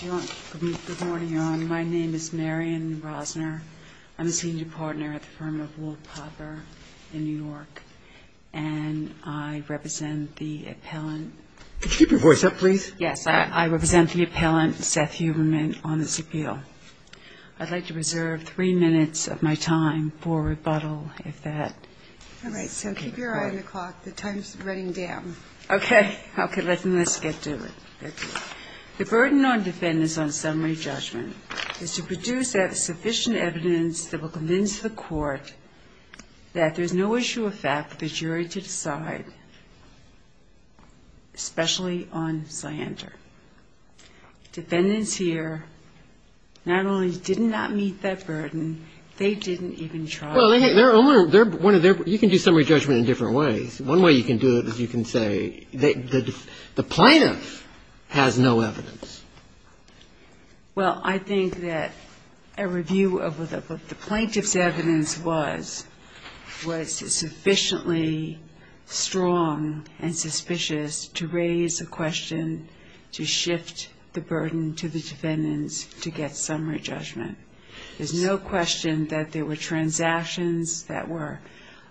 Good morning, Your Honor. My name is Marion Rosner. I'm a senior partner at the firm of Wolf Hopper in New York, and I represent the appellant. Could you keep your voice up, please? Yes. I represent the appellant, Seth Huberman, on this appeal. I'd like to reserve three minutes of my time for rebuttal, if that is okay with you. All right. So keep your eye on the clock. The time is running down. Okay. Okay. Let's get to it. The burden on defendants on summary judgment is to produce sufficient evidence that will convince the court that there's no issue of fact for the jury to decide, especially on slander. Defendants here not only did not meet that burden, they didn't even try. Well, you can do summary judgment in different ways. One way you can do it is you can say the plaintiff has no evidence. Well, I think that a review of what the plaintiff's evidence was was sufficiently strong and suspicious to raise a question to shift the burden to the defendants to get summary judgment. There's no question that there were transactions that were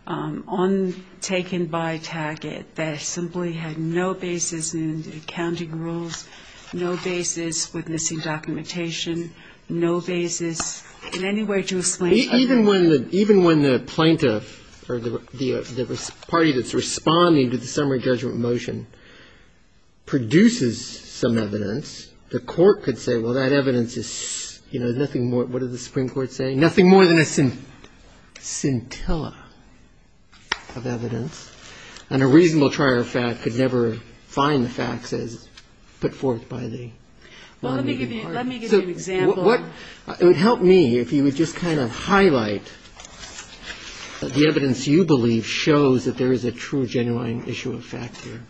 untaken by Target that simply had no basis in the accounting rules, no basis with missing documentation, no basis in any way to explain. Even when the plaintiff or the party that's responding to the summary judgment motion produces some evidence, the court could say, well, that evidence is, you know, nothing more. What did the Supreme Court say? Nothing more than a scintilla of evidence. And a reasonable trier of fact could never find the facts as put forth by the lobbying party. Well, let me give you an example. It would help me if you would just kind of highlight the evidence you believe shows that there is a true, genuine issue of fact here.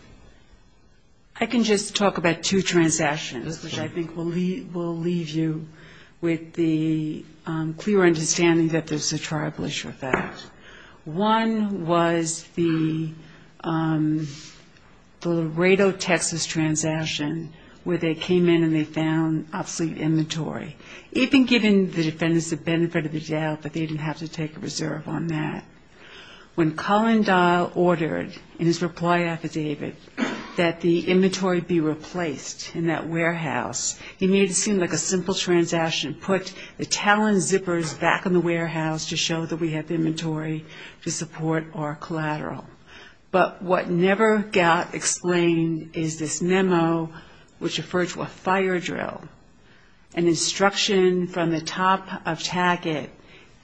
I can just talk about two transactions, which I think will leave you with the clear understanding that there's a tribal issue of fact. One was the Laredo, Texas, transaction where they came in and they found obsolete inventory. Even given the defendants the benefit of the doubt that they didn't have to take a reserve on that, when Colin Dial ordered in his reply affidavit that the inventory be replaced in that warehouse, he made it seem like a simple transaction, put the talon zippers back in the warehouse to show that we have inventory to support our collateral. But what never got explained is this memo which referred to a fire drill, an instruction from the top of TACIT,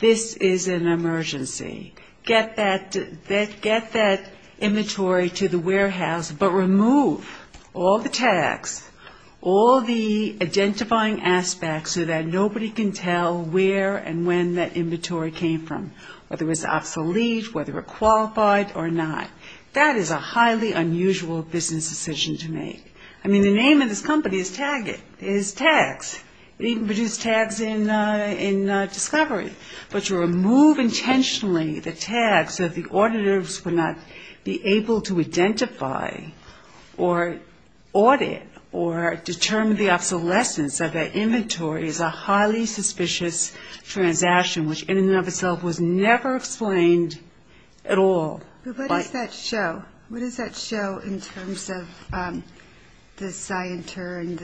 this is an emergency. Get that inventory to the warehouse, but remove all the tags, all the identifying aspects so that nobody can tell where and when that inventory came from, whether it was obsolete, whether it qualified or not. That is a highly unusual business decision to make. I mean, the name of this company is TAGIT, is tags. It even produced tags in discovery. But to remove intentionally the tags so that the auditors would not be able to identify or audit or determine the obsolescence of that inventory is a highly suspicious transaction, which in and of itself was never explained at all. But what does that show? What does that show in terms of the CITER and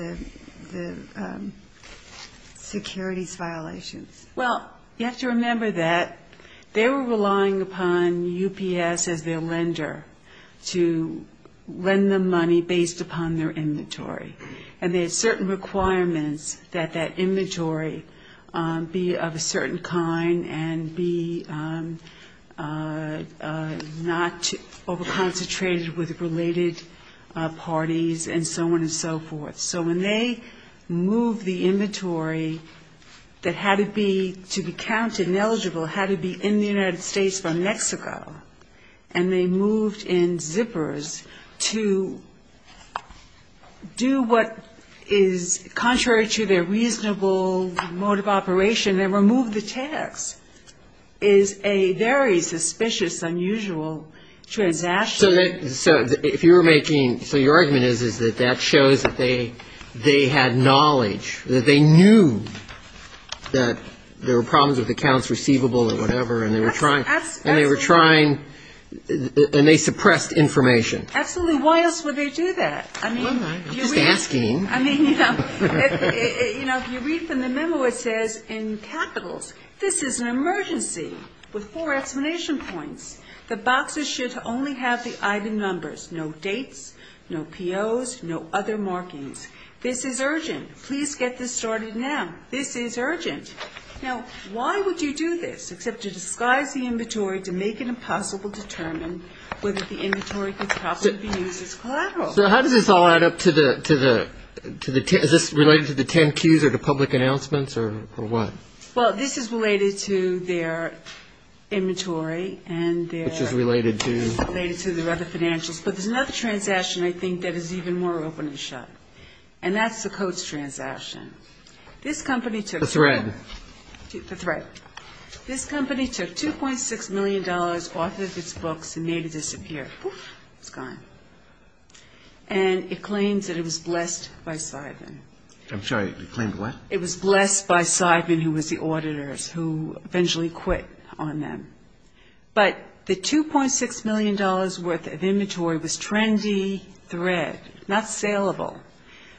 the securities violations? Well, you have to remember that they were relying upon UPS as their lender to lend them money based upon their inventory. And they had certain requirements that that inventory be of a certain kind and be not over-concentrated with related parties and so on and so forth. So when they moved the inventory that had to be, to be counted and eligible, had to be in the United States from Mexico, and they moved in zippers to do what is contrary to their reasonable mode of operation and remove the tags, is a very suspicious, unusual transaction. So if you were making, so your argument is that that shows that they had knowledge, that they knew that there were problems with accounts receivable or whatever, and they were trying, and they suppressed information. Absolutely. Why else would they do that? I'm just asking. I mean, you know, if you read from the memo, it says in capitals, this is an emergency with four explanation points. The boxers should only have the item numbers, no dates, no POs, no other markings. This is urgent. Please get this started now. This is urgent. Now, why would you do this except to disguise the inventory to make it impossible to determine whether the inventory could possibly be used as collateral? So how does this all add up to the, to the, to the, is this related to the 10Qs or the public announcements or what? Well, this is related to their inventory and their. Which is related to. Related to their other financials. But there's another transaction, I think, that is even more open and shut, and that's the Coats transaction. This company took. The thread. The thread. This company took $2.6 million off of its books and made it disappear. It's gone. And it claims that it was blessed by Seidman. I'm sorry. It claimed what? It was blessed by Seidman, who was the auditor, who eventually quit on them. But the $2.6 million worth of inventory was trendy thread, not saleable.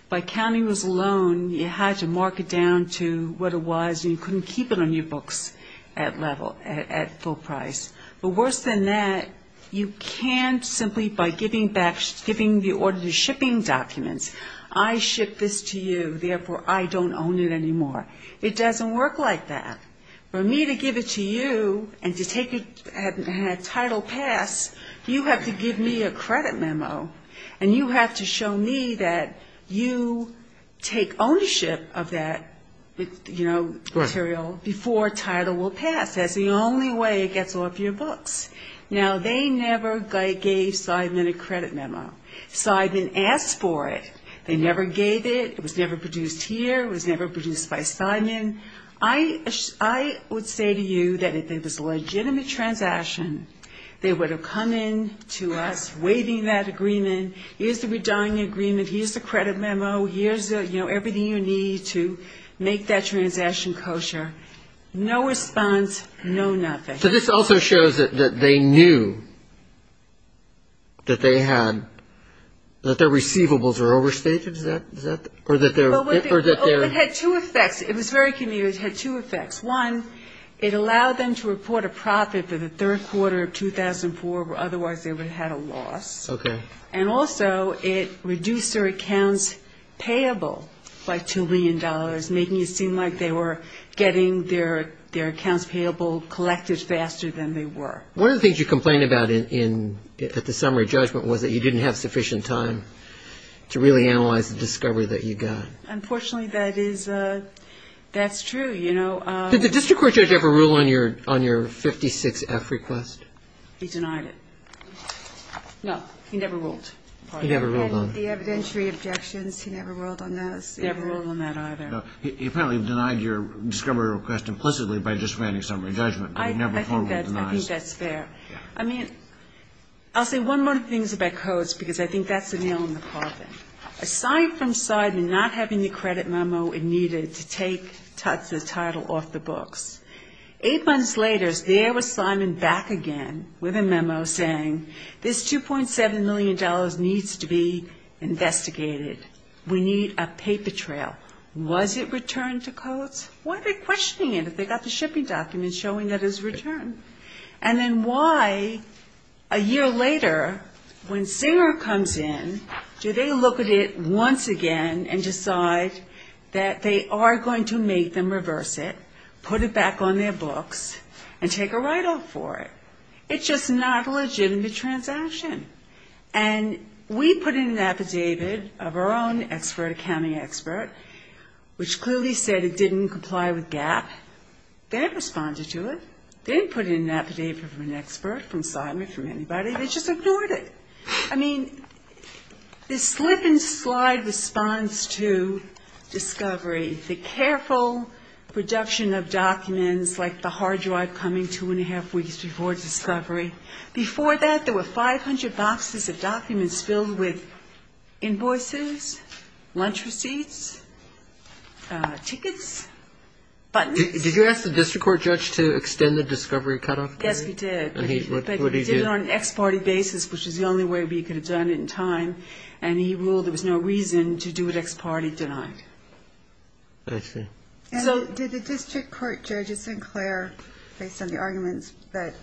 By counting those alone, you had to mark it down to what it was, and you couldn't keep it on your books at level, at full price. But worse than that, you can't simply by giving back, giving the auditor shipping documents. I shipped this to you, therefore I don't own it anymore. It doesn't work like that. For me to give it to you and to take a title pass, you have to give me a credit memo. And you have to show me that you take ownership of that, you know, material before a title will pass. That's the only way it gets off your books. Now, they never gave Seidman a credit memo. Seidman asked for it. They never gave it. It was never produced here. It was never produced by Seidman. I would say to you that if it was a legitimate transaction, they would have come in to us, waiving that agreement. Here's the redying agreement. Here's the credit memo. Here's, you know, everything you need to make that transaction kosher. No response, no nothing. So this also shows that they knew that they had – that their receivables were overstated? Is that – or that they're – It had two effects. It was very convenient. It had two effects. One, it allowed them to report a profit for the third quarter of 2004, where otherwise they would have had a loss. Okay. And also it reduced their accounts payable by $2 million, making it seem like they were getting their accounts payable collected faster than they were. One of the things you complained about at the summary judgment was that you didn't have sufficient time to really analyze the discovery that you got. Unfortunately, that is – that's true, you know. Did the district court judge ever rule on your 56-F request? He denied it. No. He never ruled. He never ruled on it. He had the evidentiary objections. He never ruled on those. He never ruled on that either. No. He apparently denied your discovery request implicitly by just granting summary judgment, but he never formally denied it. I think that's fair. I mean, I'll say one more thing about codes because I think that's a nail in the coffin. Aside from Seidman not having the credit memo it needed to take the title off the books, eight months later there was Seidman back again with a memo saying this $2.7 million needs to be investigated. We need a paper trail. Was it returned to codes? Why are they questioning it if they got the shipping documents showing that it was returned? And then why, a year later, when Singer comes in, do they look at it once again and decide that they are going to make them reverse it, put it back on their books, and take a write-off for it? It's just not a legitimate transaction. And we put in an affidavit of our own expert, accounting expert, which clearly said it didn't comply with GAAP. They didn't respond to it. They didn't put in an affidavit from an expert, from Seidman, from anybody. They just ignored it. I mean, the slip-and-slide response to discovery, the careful production of documents, like the hard drive coming two-and-a-half weeks before discovery, before that there were 500 boxes of documents filled with invoices, lunch receipts, tickets, buttons. Did you ask the district court judge to extend the discovery cutoff period? Yes, we did. And what did he do? He did it on an ex parte basis, which was the only way we could have done it in time. And he ruled there was no reason to do it ex parte denied. I see. So did the district court judge at St. Clair, based on the arguments, but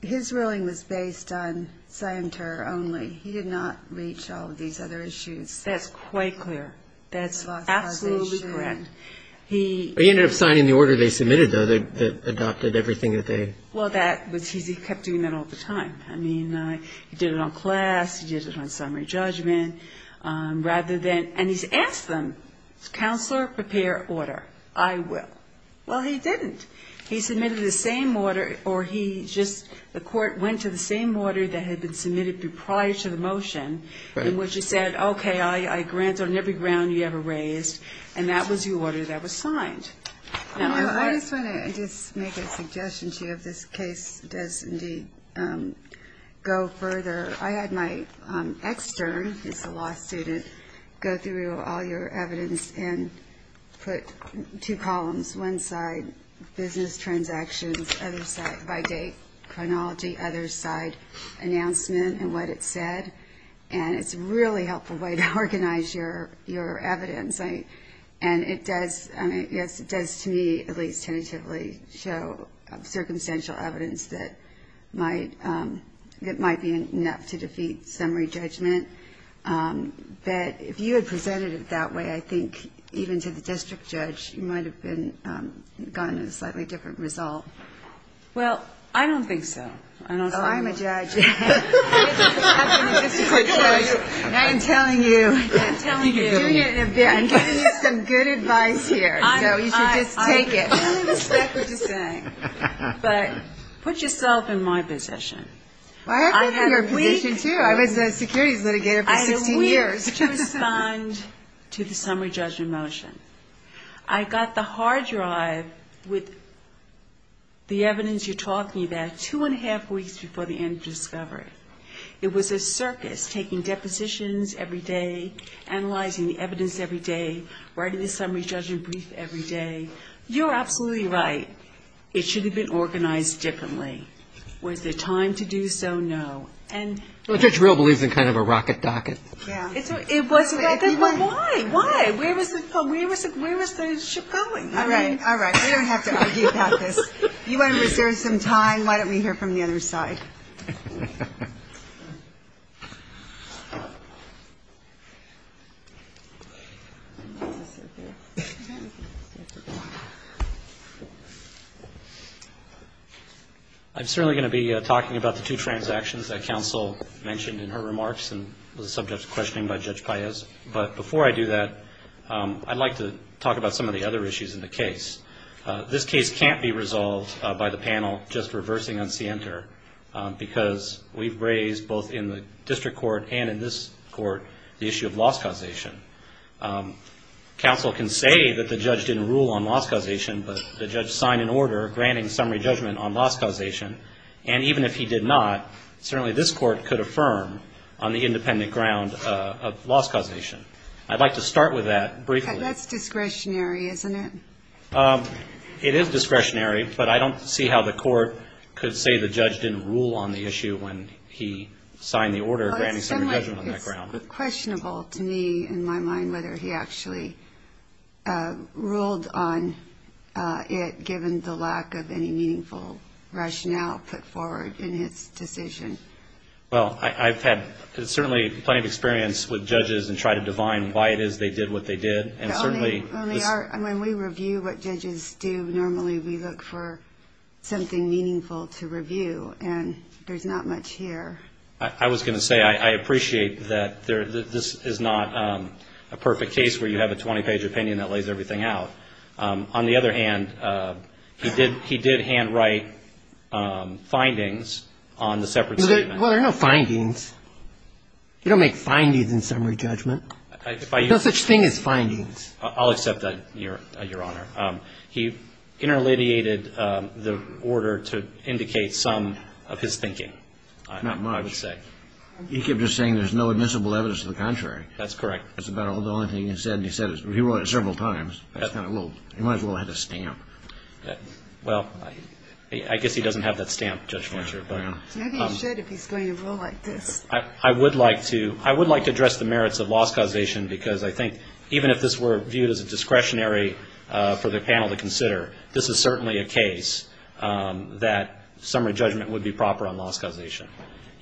his ruling was based on Scienter only. He did not reach all of these other issues. That's quite clear. That's absolutely correct. He ended up signing the order they submitted, though, that adopted everything that they had. Well, he kept doing that all the time. I mean, he did it on class. He did it on summary judgment. And he's asked them, counselor, prepare order. I will. Well, he didn't. He submitted the same order, or the court went to the same order that had been submitted prior to the motion, in which he said, okay, I grant on every ground you ever raised. And that was the order that was signed. I just want to make a suggestion to you if this case does indeed go further. I had my extern, who's a law student, go through all your evidence and put two columns, one side business transactions, other side by date, chronology, other side announcement and what it said. And it's a really helpful way to organize your evidence. And it does to me at least tentatively show circumstantial evidence that might be enough to defeat summary judgment. But if you had presented it that way, I think even to the district judge, you might have gotten a slightly different result. Well, I don't think so. Oh, I'm a judge. I am telling you, I'm giving you some good advice here. So you should just take it. I respect what you're saying. But put yourself in my position. I have been in your position, too. I was a securities litigator for 16 years. I have a week to respond to the summary judgment motion. I got the hard drive with the evidence you're talking about two and a half weeks before the end of discovery. It was a circus, taking depositions every day, analyzing the evidence every day, writing the summary judgment brief every day. You're absolutely right. It should have been organized differently. Was there time to do so? No. Well, Judge Real believes in kind of a rocket docket. Why? Why? Where was the ship going? All right. All right. We don't have to argue about this. You want to reserve some time, why don't we hear from the other side? I'm certainly going to be talking about the two transactions that counsel mentioned in her remarks and was a subject of questioning by Judge Paez. But before I do that, I'd like to talk about some of the other issues in the case. This case can't be resolved by the panel just reversing on CNTR, because we've raised both in the district court and in this court the issue of loss causation. Counsel can say that the judge didn't rule on loss causation, but the judge signed an order granting summary judgment on loss causation. And even if he did not, certainly this court could affirm on the independent ground of loss causation. I'd like to start with that briefly. That's discretionary, isn't it? It is discretionary, but I don't see how the court could say the judge didn't rule on the issue when he signed the order granting summary judgment on that ground. It's questionable to me, in my mind, whether he actually ruled on it, given the lack of any meaningful rationale put forward in his decision. Well, I've had certainly plenty of experience with judges and tried to divine why it is they did what they did. And certainly when we review what judges do, normally we look for something meaningful to review, and there's not much here. I was going to say I appreciate that this is not a perfect case where you have a 20-page opinion that lays everything out. On the other hand, he did handwrite findings on the separate statement. Well, there are no findings. You don't make findings in summary judgment. There's no such thing as findings. I'll accept that, Your Honor. He interleviated the order to indicate some of his thinking. Not much. I would say. He kept just saying there's no admissible evidence to the contrary. That's correct. That's about the only thing he said, and he said it several times. He might as well have had a stamp. Well, I guess he doesn't have that stamp, Judge Fletcher. Maybe he should if he's going to rule like this. I would like to address the merits of loss causation, because I think even if this were viewed as a discretionary for the panel to consider, this is certainly a case that summary judgment would be proper on loss causation.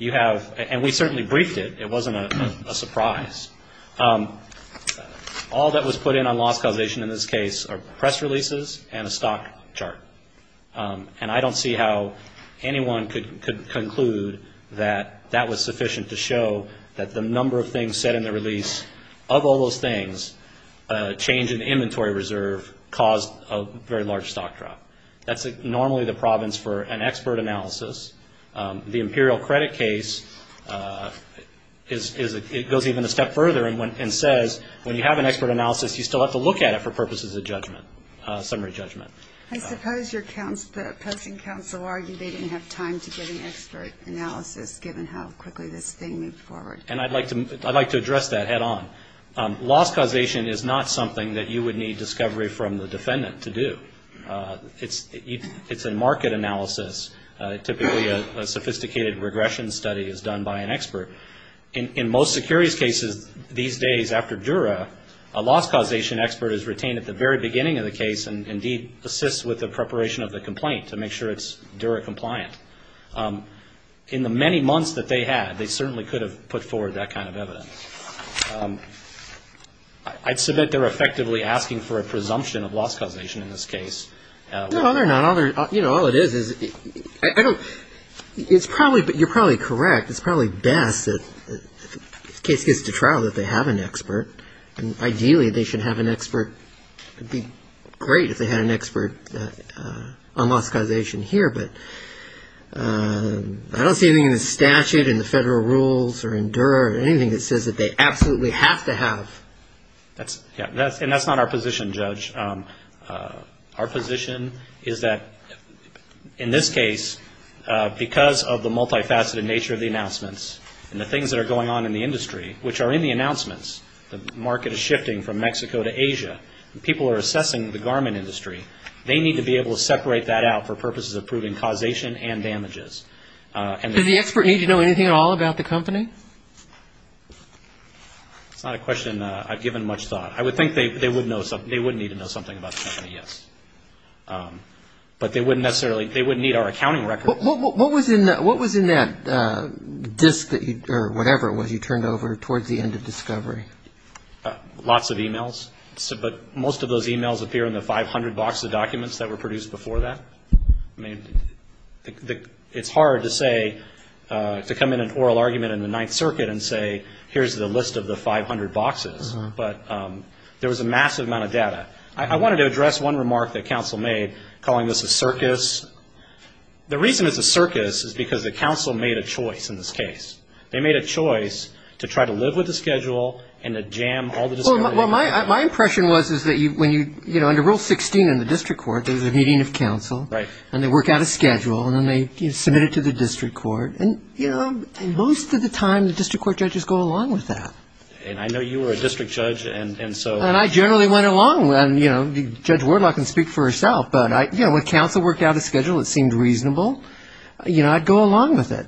And we certainly briefed it. It wasn't a surprise. All that was put in on loss causation in this case are press releases and a stock chart. And I don't see how anyone could conclude that that was sufficient to show that the number of things said in the release, of all those things, change in inventory reserve caused a very large stock drop. That's normally the province for an expert analysis. The imperial credit case goes even a step further and says when you have an expert analysis, you still have to look at it for purposes of judgment, summary judgment. I suppose your opposing counsel argued they didn't have time to get an expert analysis, given how quickly this thing moved forward. And I'd like to address that head on. Loss causation is not something that you would need discovery from the defendant to do. It's a market analysis. Typically a sophisticated regression study is done by an expert. In most securities cases these days after Dura, a loss causation expert is retained at the very beginning of the case and indeed assists with the preparation of the complaint to make sure it's Dura compliant. In the many months that they had, they certainly could have put forward that kind of evidence. I'd submit they're effectively asking for a presumption of loss causation in this case. No, they're not. You know, all it is is you're probably correct. It's probably best if the case gets to trial that they have an expert. Ideally they should have an expert. It would be great if they had an expert on loss causation here, but I don't see anything in the statute, in the federal rules, or in Dura, or anything that says that they absolutely have to have. And that's not our position, Judge. Our position is that in this case, because of the multifaceted nature of the announcements and the things that are going on in the industry, which are in the announcements, the market is shifting from Mexico to Asia, and people are assessing the garment industry, they need to be able to separate that out for purposes of proving causation and damages. Does the expert need to know anything at all about the company? That's not a question I've given much thought. I would think they would need to know something about the company, yes. But they wouldn't necessarily need our accounting record. What was in that disk, or whatever it was you turned over towards the end of discovery? Lots of e-mails. But most of those e-mails appear in the 500 box of documents that were produced before that. I mean, it's hard to say, to come in an oral argument in the Ninth Circuit and say, here's the list of the 500 boxes, but there was a massive amount of data. I wanted to address one remark that counsel made, calling this a circus. The reason it's a circus is because the counsel made a choice in this case. They made a choice to try to live with the schedule and to jam all the discovery. Well, my impression was is that when you, you know, under Rule 16 in the district court, there's a meeting of counsel, and they work out a schedule, and then they submit it to the district court. And, you know, most of the time the district court judges go along with that. And I know you were a district judge, and so. And I generally went along, and, you know, Judge Wardlock can speak for herself, but, you know, when counsel worked out a schedule that seemed reasonable, you know, I'd go along with it.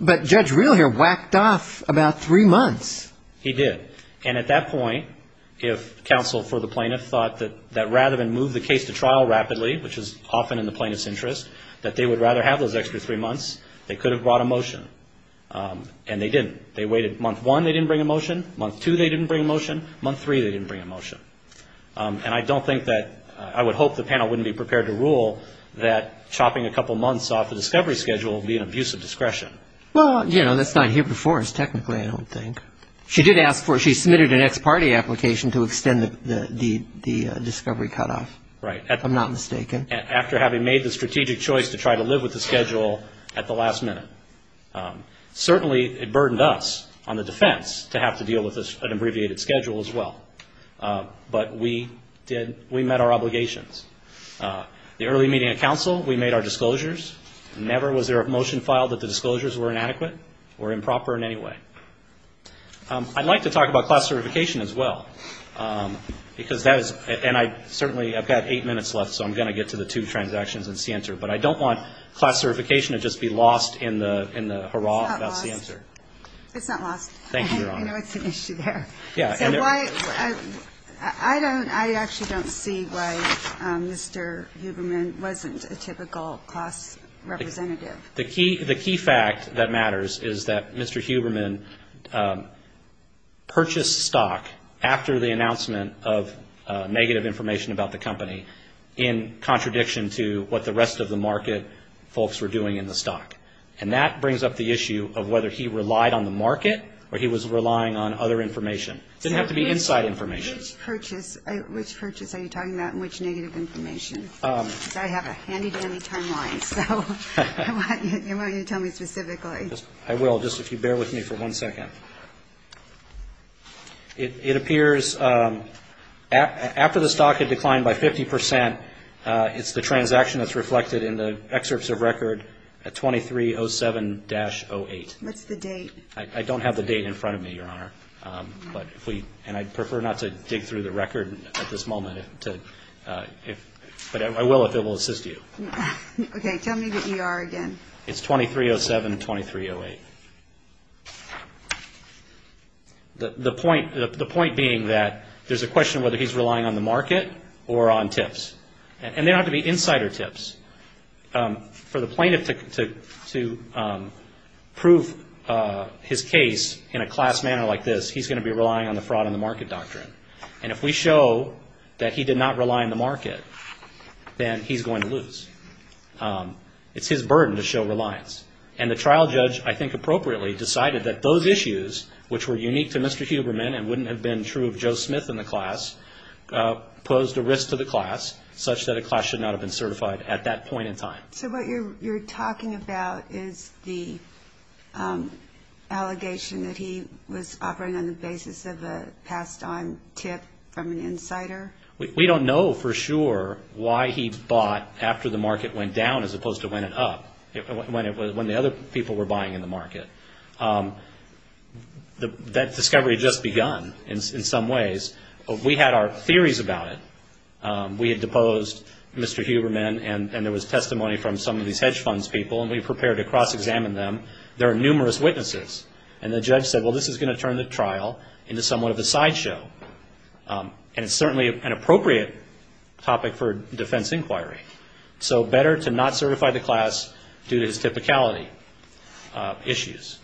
But Judge Reel here whacked off about three months. He did. And at that point, if counsel for the plaintiff thought that rather than move the case to trial rapidly, which is often in the plaintiff's interest, that they would rather have those extra three months, they could have brought a motion. And they didn't. They waited month one, they didn't bring a motion. Month two, they didn't bring a motion. Month three, they didn't bring a motion. And I don't think that I would hope the panel wouldn't be prepared to rule that chopping a couple months off the discovery schedule would be an abuse of discretion. Well, you know, that's not here before us, technically, I don't think. She did ask for it. She submitted an ex parte application to extend the discovery cutoff. Right. If I'm not mistaken. After having made the strategic choice to try to live with the schedule at the last minute. Certainly, it burdened us on the defense to have to deal with an abbreviated schedule as well. But we did. We met our obligations. The early meeting of counsel, we made our disclosures. Never was there a motion filed that the disclosures were inadequate or improper in any way. I'd like to talk about class certification as well. Because that is, and I certainly, I've got eight minutes left, so I'm going to get to the two transactions and see But I don't want class certification to just be lost in the hurrah. That's the answer. It's not lost. Thank you, Your Honor. I know it's an issue there. Yeah. I don't, I actually don't see why Mr. Huberman wasn't a typical class representative. The key fact that matters is that Mr. Huberman purchased stock after the announcement of negative information about the company in contradiction to what the rest of the market folks were doing in the stock. And that brings up the issue of whether he relied on the market or he was relying on other information. It didn't have to be inside information. Which purchase are you talking about and which negative information? Because I have a handy-dandy timeline, so I want you to tell me specifically. I will, just if you bear with me for one second. It appears after the stock had declined by 50%, it's the transaction that's reflected in the excerpts of record at 2307-08. What's the date? I don't have the date in front of me, Your Honor. And I'd prefer not to dig through the record at this moment. But I will if it will assist you. Okay. Tell me the ER again. It's 2307-2308. Okay. The point being that there's a question of whether he's relying on the market or on tips. And they don't have to be insider tips. For the plaintiff to prove his case in a class manner like this, he's going to be relying on the fraud in the market doctrine. And if we show that he did not rely on the market, then he's going to lose. It's his burden to show reliance. And the trial judge, I think appropriately, decided that those issues, which were unique to Mr. Huberman and wouldn't have been true of Joe Smith in the class, posed a risk to the class, such that a class should not have been certified at that point in time. So what you're talking about is the allegation that he was offering on the basis of a passed-on tip from an insider? We don't know for sure why he bought after the market went down as opposed to when it went up, when the other people were buying in the market. That discovery had just begun in some ways. We had our theories about it. We had deposed Mr. Huberman, and there was testimony from some of these hedge funds people, and we prepared to cross-examine them. There are numerous witnesses. And the judge said, well, this is going to turn the trial into somewhat of a sideshow. And it's certainly an appropriate topic for defense inquiry. So better to not certify the class due to his typicality issues.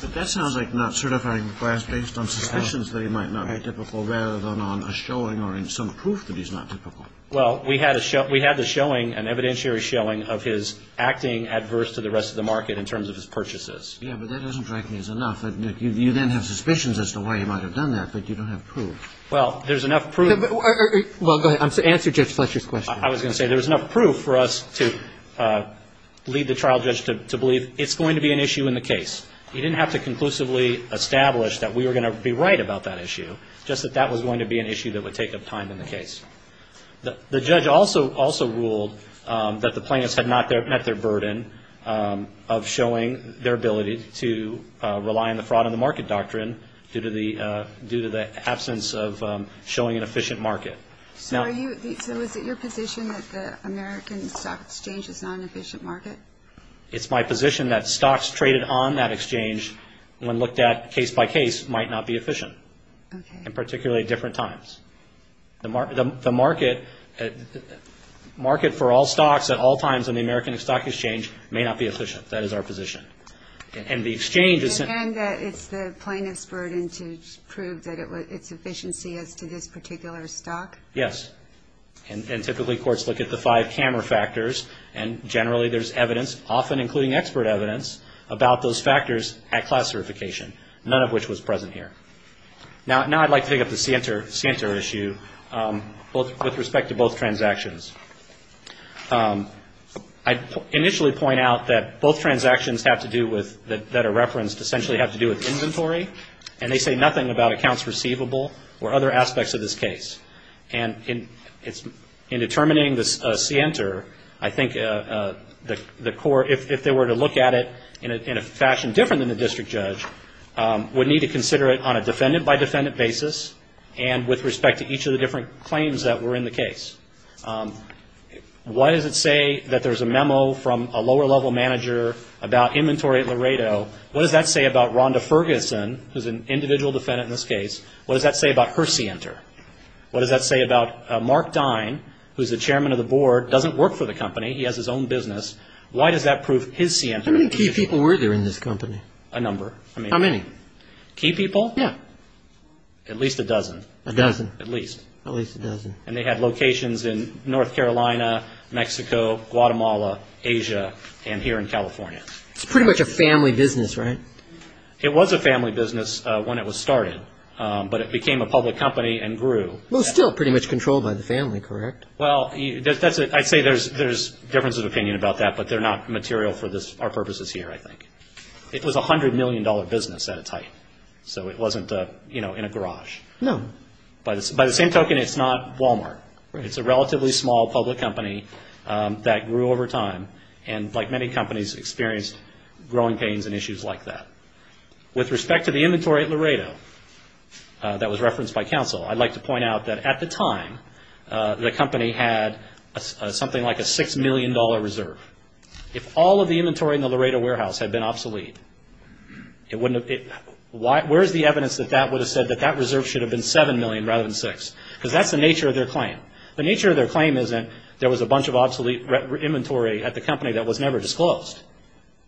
But that sounds like not certifying the class based on suspicions that he might not be typical rather than on a showing or some proof that he's not typical. Well, we had the showing, an evidentiary showing, of his acting adverse to the rest of the market in terms of his purchases. Yeah, but that doesn't strike me as enough. You then have suspicions as to why he might have done that, but you don't have proof. Well, there's enough proof. Well, go ahead. Answer Judge Fletcher's question. I was going to say there was enough proof for us to lead the trial judge to believe it's going to be an issue in the case. He didn't have to conclusively establish that we were going to be right about that issue, just that that was going to be an issue that would take up time in the case. The judge also ruled that the plaintiffs had not met their burden of showing their ability to rely on the fraud and the market doctrine due to the absence of showing an efficient market. So is it your position that the American stock exchange is not an efficient market? It's my position that stocks traded on that exchange, when looked at case by case, might not be efficient, and particularly at different times. The market for all stocks at all times in the American stock exchange may not be efficient. That is our position. And the exchange is – And it's the plaintiff's burden to prove that it's efficiency as to this particular stock? Yes. And typically courts look at the five camera factors, and generally there's evidence, often including expert evidence, about those factors at class certification, none of which was present here. Now I'd like to pick up the Sienter issue with respect to both transactions. I'd initially point out that both transactions have to do with – that are referenced essentially have to do with inventory, and they say nothing about accounts receivable or other aspects of this case. And in determining the Sienter, I think the court, if they were to look at it in a fashion different than the district judge, would need to consider it on a defendant-by-defendant basis and with respect to each of the different claims that were in the case. Why does it say that there's a memo from a lower-level manager about inventory at Laredo? What does that say about Rhonda Ferguson, who's an individual defendant in this case? What does that say about her Sienter? What does that say about Mark Dine, who's the chairman of the board, doesn't work for the company. He has his own business. Why does that prove his Sienter? How many key people were there in this company? A number. How many? Key people? Yeah. At least a dozen. A dozen. At least. At least a dozen. And they had locations in North Carolina, Mexico, Guatemala, Asia, and here in California. It's pretty much a family business, right? It was a family business when it was started, but it became a public company and grew. It was still pretty much controlled by the family, correct? Well, I'd say there's differences of opinion about that, but they're not material for our purposes here, I think. It was a $100 million business at its height, so it wasn't in a garage. No. By the same token, it's not Walmart. It's a relatively small public company that grew over time and, like many companies, experienced growing pains and issues like that. With respect to the inventory at Laredo that was referenced by counsel, I'd like to point out that at the time, the company had something like a $6 million reserve. If all of the inventory in the Laredo warehouse had been obsolete, where's the evidence that that would have said that that reserve should have been $7 million rather than $6? Because that's the nature of their claim. The nature of their claim isn't there was a bunch of obsolete inventory at the company that was never disclosed.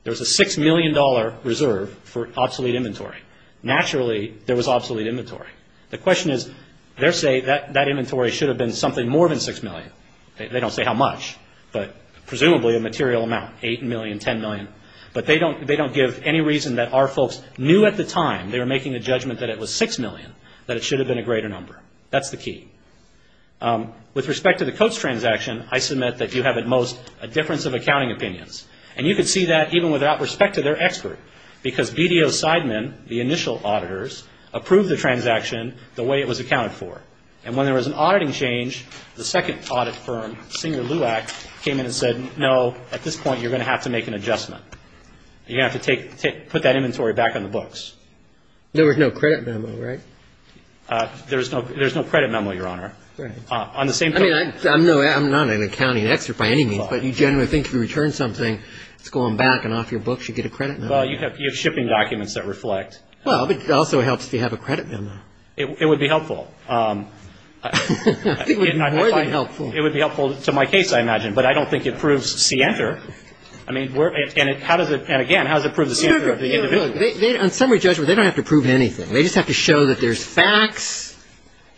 There was a $6 million reserve for obsolete inventory. Naturally, there was obsolete inventory. The question is, they're saying that that inventory should have been something more than $6 million. They don't say how much, but presumably a material amount, $8 million, $10 million. But they don't give any reason that our folks knew at the time they were making the judgment that it was $6 million, that it should have been a greater number. That's the key. With respect to the Coates transaction, I submit that you have at most a difference of accounting opinions. And you can see that even without respect to their expert, because BDO's sidemen, the initial auditors, approved the transaction the way it was accounted for. And when there was an auditing change, the second audit firm, Singer LUAC, came in and said, no, at this point you're going to have to make an adjustment. You're going to have to put that inventory back on the books. There was no credit memo, right? There's no credit memo, Your Honor. I'm not an accounting expert by any means, but you generally think if you return something, it's going back and off your books, you get a credit memo. Well, you have shipping documents that reflect. Well, but it also helps if you have a credit memo. It would be helpful. It would be more than helpful. It would be helpful to my case, I imagine. But I don't think it proves scienter. And again, how does it prove the scienter of the individual? On summary judgment, they don't have to prove anything. They just have to show that there's facts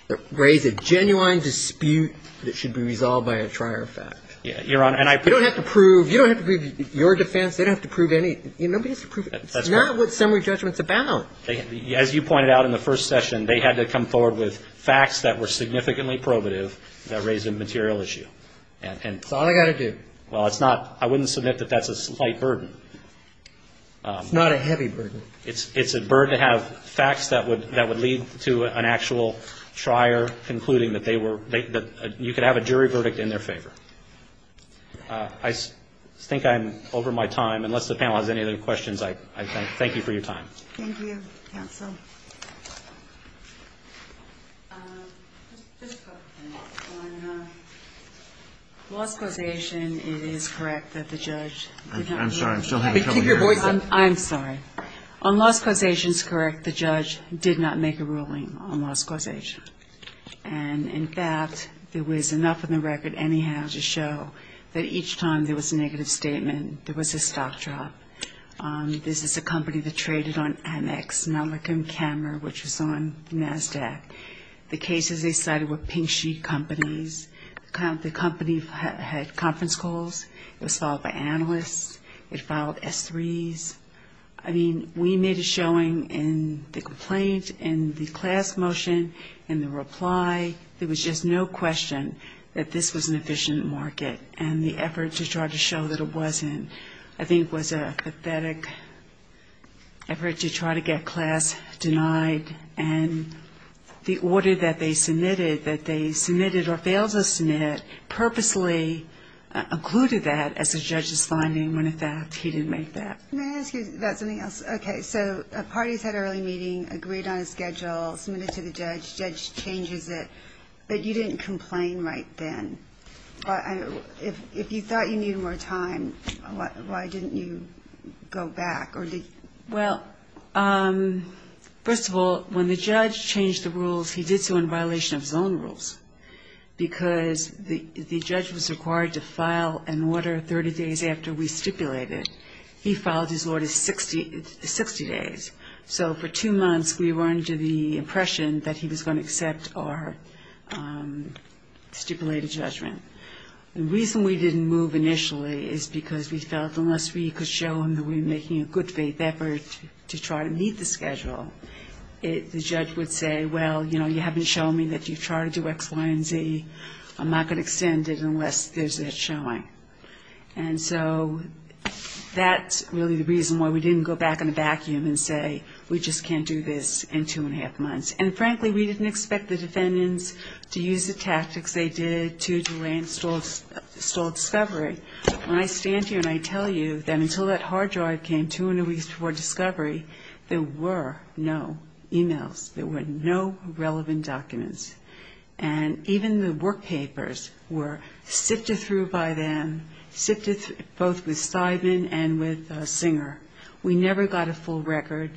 that raise a genuine dispute that should be resolved by a trier of fact. Your Honor, and I ---- You don't have to prove your defense. They don't have to prove anything. Nobody has to prove anything. It's not what summary judgment's about. As you pointed out in the first session, they had to come forward with facts that were significantly probative that raised a material issue. That's all I've got to do. Well, it's not. I wouldn't submit that that's a slight burden. It's not a heavy burden. It's a burden to have facts that would lead to an actual trier concluding that they were ---- that you could have a jury verdict in their favor. I think I'm over my time. Unless the panel has any other questions, I thank you for your time. Thank you, counsel. Just a couple of things. On loss causation, it is correct that the judge ---- I'm sorry. I'm still having trouble hearing. I'm sorry. On loss causation, it's correct. The judge did not make a ruling on loss causation. And, in fact, there was enough in the record anyhow to show that each time there was a negative statement, there was a stock drop. This is a company that traded on Annex, Malacom Camera, which was on NASDAQ. The cases they cited were pink sheet companies. The company had conference calls. It was followed by analysts. It followed S3s. I mean, we made a showing in the complaint, in the class motion, in the reply. There was just no question that this was an efficient market. And the effort to try to show that it wasn't, I think, was a pathetic effort to try to get class denied. And the order that they submitted, that they submitted or failed to submit, purposely occluded that as a judge's finding when, in fact, he didn't make that. May I ask you about something else? Okay. So a party's had an early meeting, agreed on a schedule, submitted to the judge, judge changes it, but you didn't complain right then. If you thought you needed more time, why didn't you go back? Well, first of all, when the judge changed the rules, he did so in violation of his own rules because the judge was required to file an order 30 days after we stipulated. He filed his order 60 days. So for two months we were under the impression that he was going to accept our stipulated judgment. The reason we didn't move initially is because we felt unless we could show him that we were making a good faith effort to try to meet the schedule, the judge would say, well, you know, you haven't shown me that you've tried to do X, Y, and Z. I'm not going to extend it unless there's that showing. And so that's really the reason why we didn't go back in a vacuum and say, we just can't do this in two and a half months. And frankly, we didn't expect the defendants to use the tactics they did to delay and stall discovery. When I stand here and I tell you that until that hard drive came two and a week before discovery, there were no e-mails. There were no relevant documents. And even the work papers were sifted through by them, sifted both with stipend and with Singer. We never got a full record.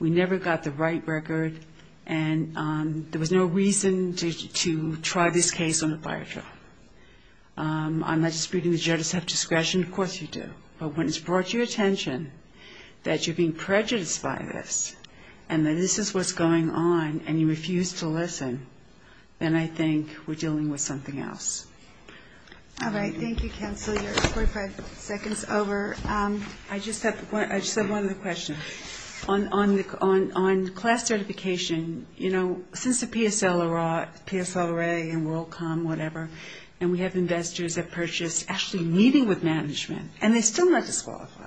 We never got the right record. And there was no reason to try this case on a firetruck. I'm not disputing the judge's discretion. Of course you do. But when it's brought to your attention that you're being prejudiced by this and that this is what's going on and you refuse to listen, then I think we're dealing with something else. All right. Thank you, Counselor. You're 45 seconds over. I just have one other question. On class certification, you know, since the PSLRA and WorldCom, whatever, and we have investors that purchased actually meeting with management, and they're still not disqualified.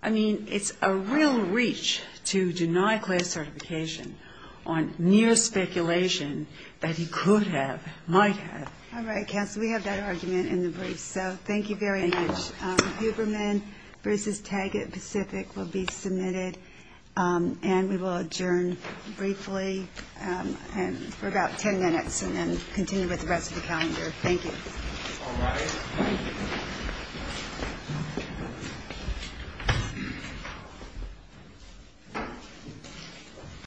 I mean, it's a real reach to deny class certification on mere speculation that he could have, might have. All right, Counselor, we have that argument in the briefs. So thank you very much. Huberman versus Taggart Pacific will be submitted, and we will adjourn briefly for about ten minutes and then continue with the rest of the calendar. Thank you. All right.